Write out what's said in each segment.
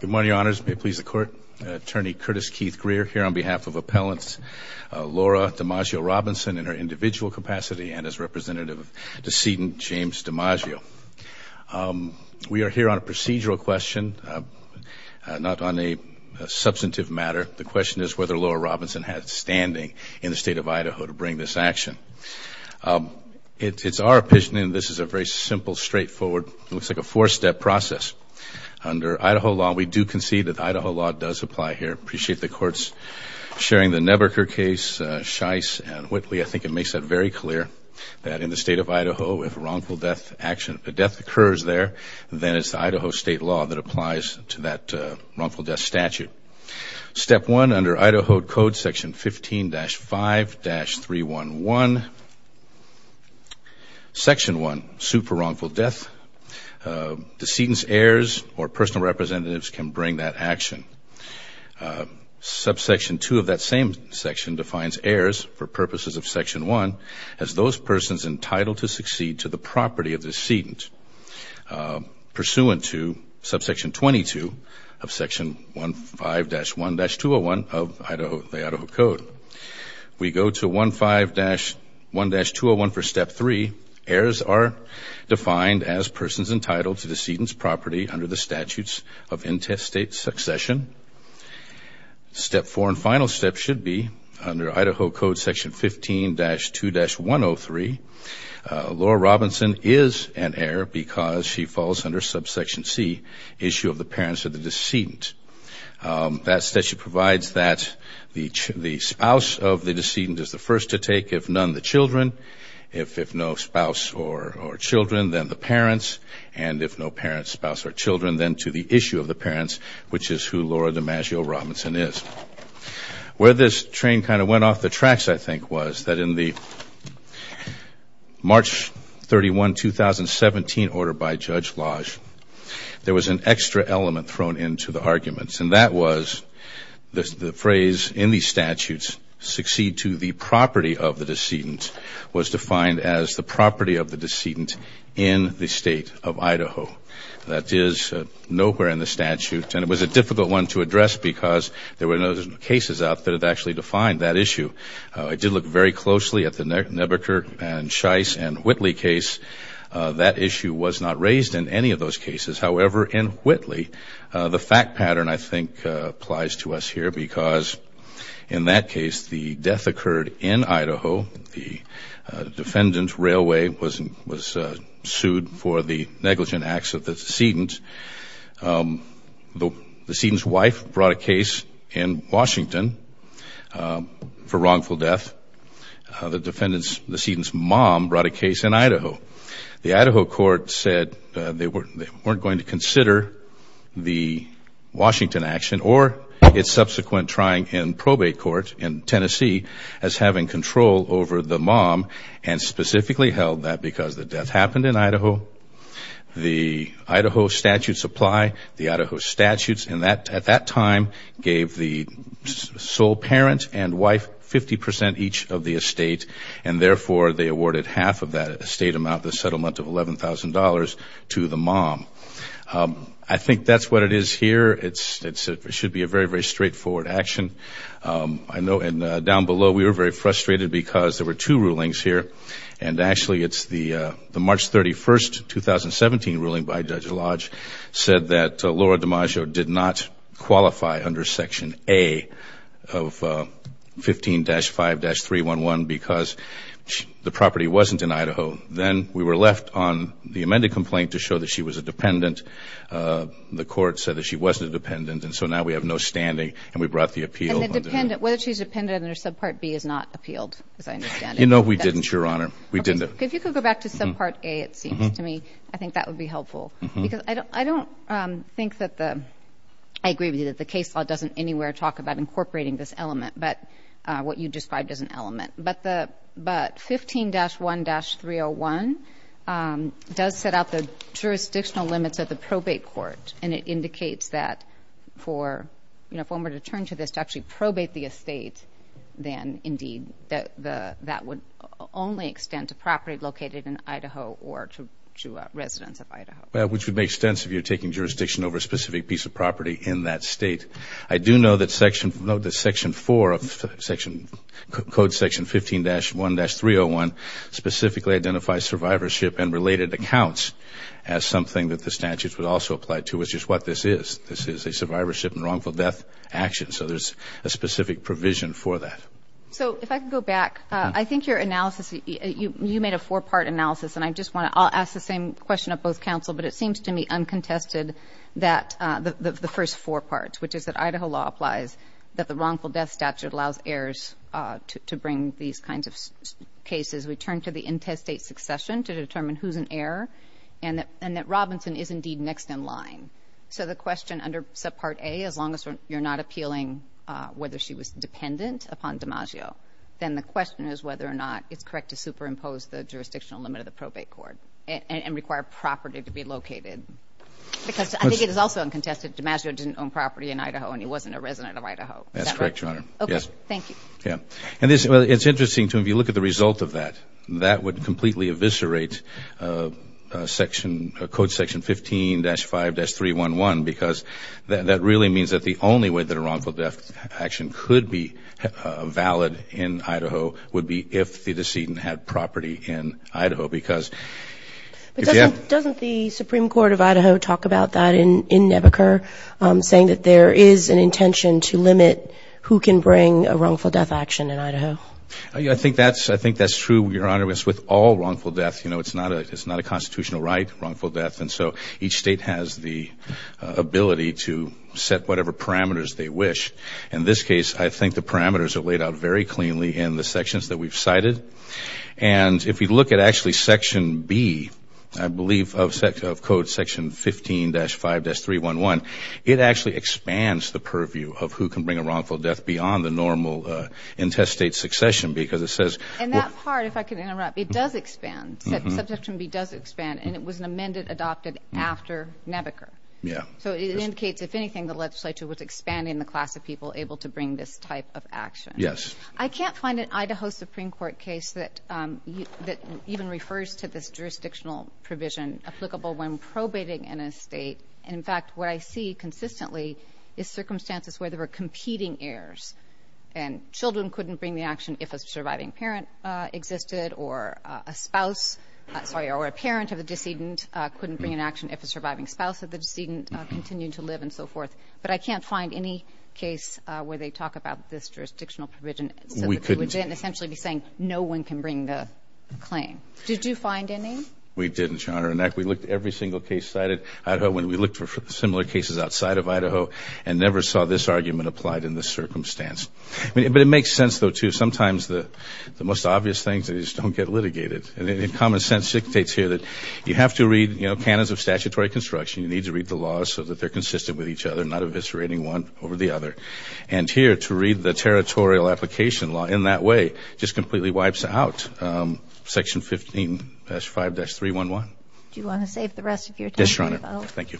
Good morning, Your Honors. May it please the Court, Attorney Curtis Keith Greer here on behalf of Appellants Laura DiMaggio Robinson in her individual capacity and as representative of decedent James DiMaggio. We are here on a procedural question, not on a substantive matter. The question is whether Laura Robinson has standing in the State of Idaho to bring this action. It's our opinion, this is a very simple, straightforward, it looks like a four-step process. Under Idaho law, we do concede that Idaho law does apply here. I appreciate the Courts sharing the Nebaker case, Shice and Whitley. I think it makes it very clear that in the State of Idaho, if a wrongful death action, if a death occurs there, then it's Idaho State law that applies to that wrongful death statute. Step one, under Idaho Code Section 15-5-311, Section 1, suit for wrongful death, decedent's heirs or personal representatives can bring that action. Subsection 2 of that same section defines heirs for purposes of Section 1 as those persons entitled to succeed to the property of the decedent. Pursuant to Subsection 22 of Section 15-1-201 of the Idaho Code, we go to 15-1-201 for Step 3. Heirs are defined as persons entitled to decedent's property under the statutes of intestate succession. Step 4 and final step should be under Idaho Code Section 15-2-103. Laura Robinson is an issue of the parents of the decedent. That statute provides that the spouse of the decedent is the first to take, if none, the children. If no spouse or children, then the parents. And if no parents, spouse, or children, then to the issue of the parents, which is who Laura DeMaggio Robinson is. Where this train kind of went off the tracks, I think, was that in the March 31, 2017, order by Judge Lodge, there was an extra element thrown into the arguments. And that was the phrase in these statutes, succeed to the property of the decedent, was defined as the property of the decedent in the State of Idaho. That is nowhere in the statute. And it was a difficult one to address because there were no cases out that had actually defined that issue. I did look very closely at the Nebaker and Shice and Whitley case. That issue was not raised in any of those cases. However, in Whitley, the fact pattern, I think, applies to us here because in that case, the death occurred in Idaho. The defendant's railway was sued for the negligent acts of the decedent. The decedent's wife brought a case in Washington for wrongful death. The defendant's, the decedent's mom brought a case in Idaho. The Idaho court said they weren't going to consider the Washington action or its subsequent trying in probate court in Tennessee as having control over the mom and specifically held that because the death happened in Idaho. The Idaho statutes apply. The Idaho statutes at that time gave the sole parent and wife 50 percent each of the estate. And therefore, they awarded half of that estate amount, the settlement of $11,000 to the mom. I think that's what it is here. It should be a very, very straightforward action. I know down below, we were very frustrated because there were two rulings here. And actually, it's the March 31st, 2017 ruling by Judge of 15-5-311 because the property wasn't in Idaho. Then we were left on the amended complaint to show that she was a dependent. The court said that she wasn't a dependent. And so now we have no standing and we brought the appeal. And the dependent, whether she's a dependent under subpart B is not appealed, as I understand it. No, we didn't, Your Honor. We didn't. If you could go back to subpart A, it seems to me, I think that would be helpful. Because I don't think that the, I agree with you, that the case law doesn't anywhere talk about incorporating this element, but what you described as an element. But 15-1-301 does set out the jurisdictional limits of the probate court. And it indicates that for, you know, if one were to turn to this to actually probate the estate, then indeed, that would only extend to property located in Idaho or to residents of Idaho. Which would make sense if you're taking jurisdiction over a specific piece of property in that state. I do know that section, no, that section 4 of section, code section 15-1-301 specifically identifies survivorship and related accounts as something that the statutes would also apply to, which is what this is. This is a survivorship and wrongful death action. So there's a specific provision for that. So if I could go back, I think your analysis, you made a four-part analysis. And I just want to, I'll ask the same question of both counsel, but it seems to me uncontested that the first four parts, which is that Idaho law applies, that the wrongful death statute allows heirs to bring these kinds of cases. We turn to the intestate succession to determine who's an heir and that Robinson is indeed next in line. So the question under subpart A, as long as you're not appealing whether she was dependent upon DiMaggio, then the question is whether or not it's correct to superimpose the jurisdictional limit of the statute and require property to be located. Because I think it is also uncontested DiMaggio didn't own property in Idaho and he wasn't a resident of Idaho. Is that right? That's correct, Your Honor. Okay. Thank you. Yeah. And it's interesting, too, if you look at the result of that, that would completely eviscerate section, code section 15-5-311 because that really means that the only way that a wrongful death action could be valid in Idaho would be if the decedent had property in Idaho. Because if you have But doesn't the Supreme Court of Idaho talk about that in Nebuchadnezzar saying that there is an intention to limit who can bring a wrongful death action in Idaho? I think that's true, Your Honor. With all wrongful deaths, you know, it's not a constitutional right, wrongful death. And so each state has the ability to set whatever parameters they wish. In this case, I think the parameters are laid out very cleanly in the sections that we've cited. And if you look at actually section B, I believe, of code section 15-5-311, it actually expands the purview of who can bring a wrongful death beyond the normal intestate succession because it says And that part, if I can interrupt, it does expand. Subsection B does expand. And it was an amendment adopted after Nebuchadnezzar. Yeah. So it indicates, if anything, the legislature was expanding the class of people able to bring this type of action. Yes. I can't find an Idaho Supreme Court case that even refers to this jurisdictional provision applicable when probating in a state. In fact, what I see consistently is circumstances where there were competing heirs and children couldn't bring the action if a surviving parent existed or a spouse, sorry, or a parent of the decedent couldn't bring an action if a surviving spouse of the decedent continued to live and so forth. But I can't find any case where they talk about this jurisdictional provision so that they wouldn't essentially be saying no one can bring the claim. Did you find any? We didn't, Your Honor. In fact, we looked at every single case cited, Idaho, when we looked for similar cases outside of Idaho and never saw this argument applied in this circumstance. But it makes sense, though, too. Sometimes the most obvious things just don't get litigated. And common sense dictates here that you have to read, you know, canons of statutory construction. You need to read the laws so that they're consistent with each other, not eviscerating one over the other. And here, to read the territorial application law in that way just completely wipes out Section 15-5-311. Do you want to save the rest of your time? Yes, Your Honor. Thank you.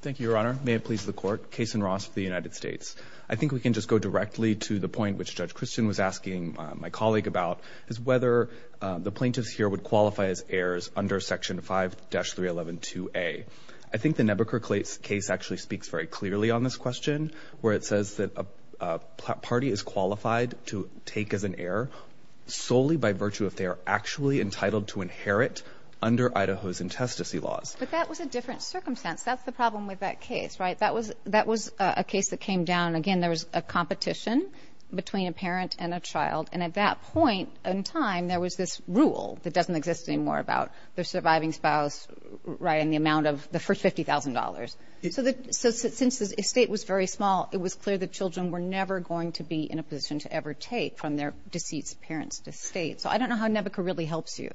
Thank you, Your Honor. May it please the Court. Kason Ross of the United States. I think we can just go directly to the point which Judge Christian was asking my colleague about, is whether the plaintiffs here would qualify as heirs under Section 5-311-2A. I think the Nebuchadnezzar case actually speaks very clearly on this question, where it says that a party is qualified to take as an heir solely by virtue if they are actually entitled to inherit under Idaho's intestacy laws. But that was a different circumstance. That's the problem with that case, right? That was a case that came down, again, there was a competition between a parent and a child. And at that point in time, there was this rule that doesn't exist anymore about the surviving spouse, right, and the amount of the first $50,000. So since the estate was very small, it was clear the children were never going to be in a position to ever take from their deceased parents' estate. So I don't know how Nebuchadnezzar really helps you.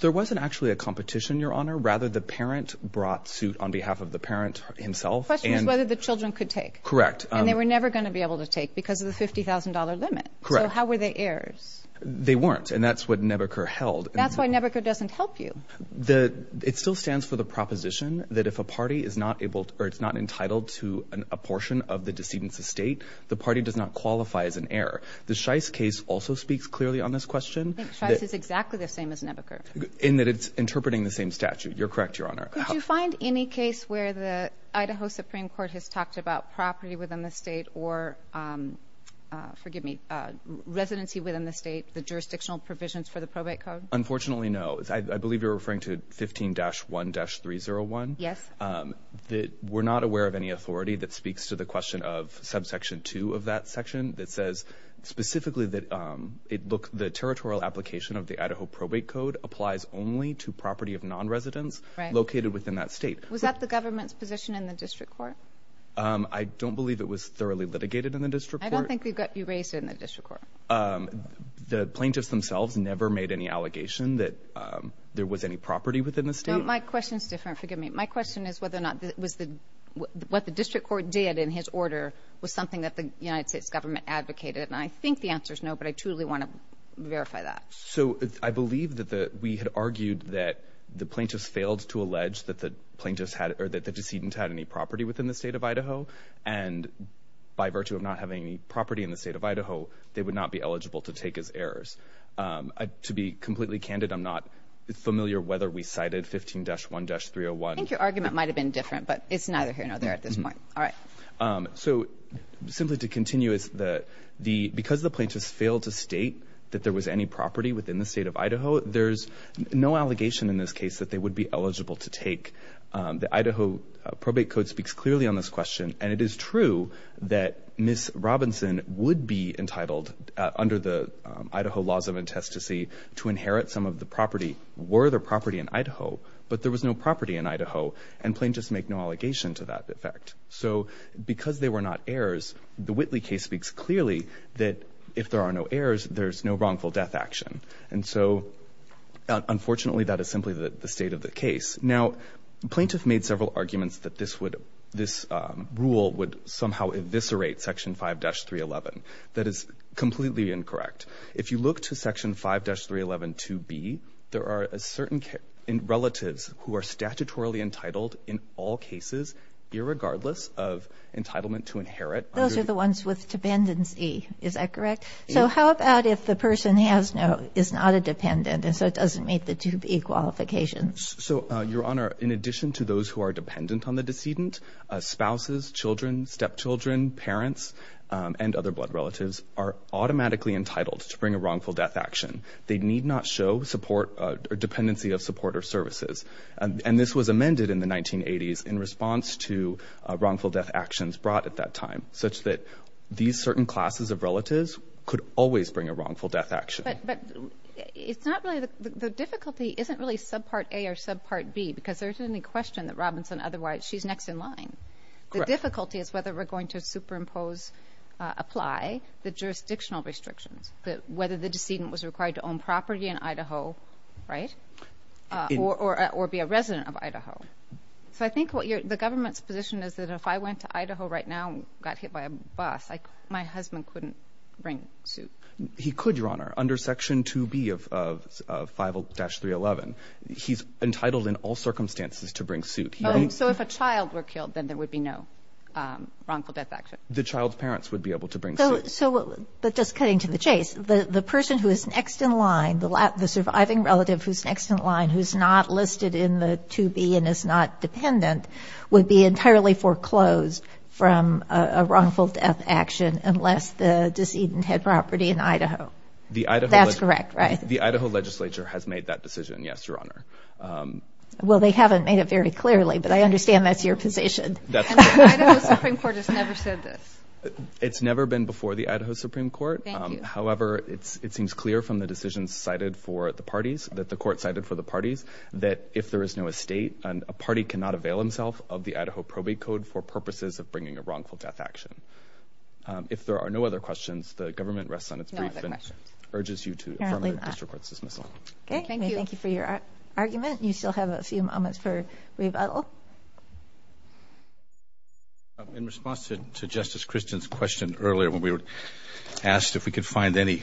There wasn't actually a competition, Your Honor. Rather, the parent brought suit on behalf of the parent himself. So the question is whether the children could take. Correct. And they were never going to be able to take because of the $50,000 limit. Correct. So how were they heirs? They weren't, and that's what Nebuchadnezzar held. That's why Nebuchadnezzar doesn't help you. It still stands for the proposition that if a party is not entitled to a portion of the decedent's estate, the party does not qualify as an heir. The Shice case also speaks clearly on this question. I think Shice is exactly the same as Nebuchadnezzar. In that it's interpreting the same statute. You're correct, Your Honor. Could you find any case where the Idaho Supreme Court has talked about property within the state or, forgive me, residency within the state, the jurisdictional provisions for the probate code? Unfortunately, no. I believe you're referring to 15-1-301. Yes. We're not aware of any authority that speaks to the question of subsection 2 of that section that says specifically that the territorial application of the Idaho probate code applies only to property of non-residents located within that state. Was that the government's position in the district court? I don't believe it was thoroughly litigated in the district court. I don't think you raised it in the district court. The plaintiffs themselves never made any allegation that there was any property within the state. My question is different. Forgive me. My question is whether or not what the district court did in his order was something that the United States government advocated. I think the answer is no, but I truly want to verify that. I believe that we had argued that the plaintiffs failed to allege that the decedent had any property within the state of Idaho, and by virtue of not having any property in the state of Idaho, they would not be eligible to take as heirs. To be completely candid, I'm not familiar whether we cited 15-1-301. I think your argument might have been different, but it's neither here nor there at this point. Simply to continue, because the plaintiffs failed to state that there was any property within the state of Idaho, there's no allegation in this case that they would be eligible to take. The Idaho probate code speaks clearly on this question, and it is true that Ms. Robinson would be entitled under the Idaho laws of intestacy to inherit some of the property were the property in Idaho, but there was no property in Idaho, and plaintiffs make no allegation to that effect. So because they were not heirs, the Whitley case speaks clearly that if there are no heirs, there's no wrongful death action. And so, unfortunately, that is simply the state of the case. Now, plaintiff made several arguments that this rule would somehow eviscerate Section 5-311. That is completely incorrect. If you look to Section 5-3112B, there are certain relatives who are statutorily entitled in all cases, irregardless of entitlement to inherit. Those are the ones with dependency. Is that correct? So how about if the person has no, is not a dependent, and so it doesn't meet the 2B qualifications? So, Your Honor, in addition to those who are dependent on the decedent, spouses, children, stepchildren, parents, and other blood relatives are automatically entitled to bring a wrongful death action. They need not show support or dependency of support or services. And this was amended in the 1980s in response to wrongful death actions brought at that time, such that these certain classes of relatives could always bring a wrongful death action. But it's not really, the difficulty isn't really subpart A or subpart B, because there's no question that Robinson, otherwise, she's next in line. Correct. The difficulty is whether we're going to superimpose, apply the jurisdictional restrictions, whether the decedent was required to own property in Idaho, right? Or be a resident of Idaho. So I think what you're, the government's position is that if I went to Idaho right now and got hit by a bus, my husband couldn't bring suit. He could, Your Honor, under Section 2B of 5-311. He's entitled in all circumstances to bring suit. So if a child were killed, then there would be no wrongful death action. The child's parents would be able to bring suit. So, but just cutting to the chase, the person who is next in line, the surviving relative who's next in line, who's not listed in the 2B and is not dependent, would be entirely foreclosed from a wrongful death action unless the decedent had property in Idaho. The Idaho. That's correct, right? The Idaho legislature has made that decision. Yes, Your Honor. Well, they haven't made it very clearly, but I understand that's your position. And the Idaho Supreme Court has never said this. It's never been before the Idaho Supreme Court. Thank you. However, it seems clear from the decisions cited for the parties, that the court cited for the parties, that if there is no estate, a party cannot avail himself of the Idaho probate code for purposes of bringing a wrongful death action. If there are no other questions, the government rests on its brief and urges you to affirm the district court's dismissal. Okay, thank you for your argument. You still have a few moments for rebuttal. In response to Justice Christian's question earlier when we were asked if we could find any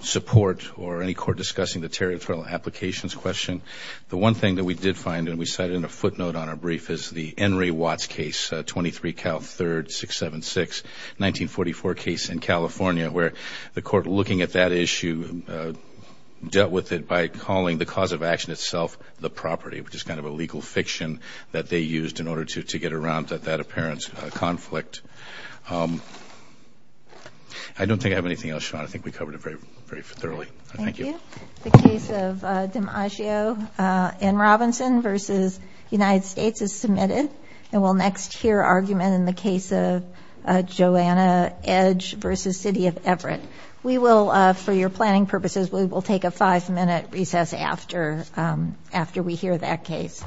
support or any court discussing the territorial applications question, the one thing that we did find, and we cited in a footnote on our brief, is the Henry Watts case, 23 Cal 3rd 676, 1944 case in California, where the court looking at that issue dealt with it by calling the cause of action itself the property, which is kind of a legal fiction that they used in order to get around that apparent conflict. I don't think I have anything else, Your Honor. I think we covered it very thoroughly. Thank you. The case of DiMaggio and Robinson versus United States is submitted, and we'll next hear argument in the case of Joanna Edge versus City of Everett. We will, for your planning purposes, we will take a five-minute recess after we hear that case.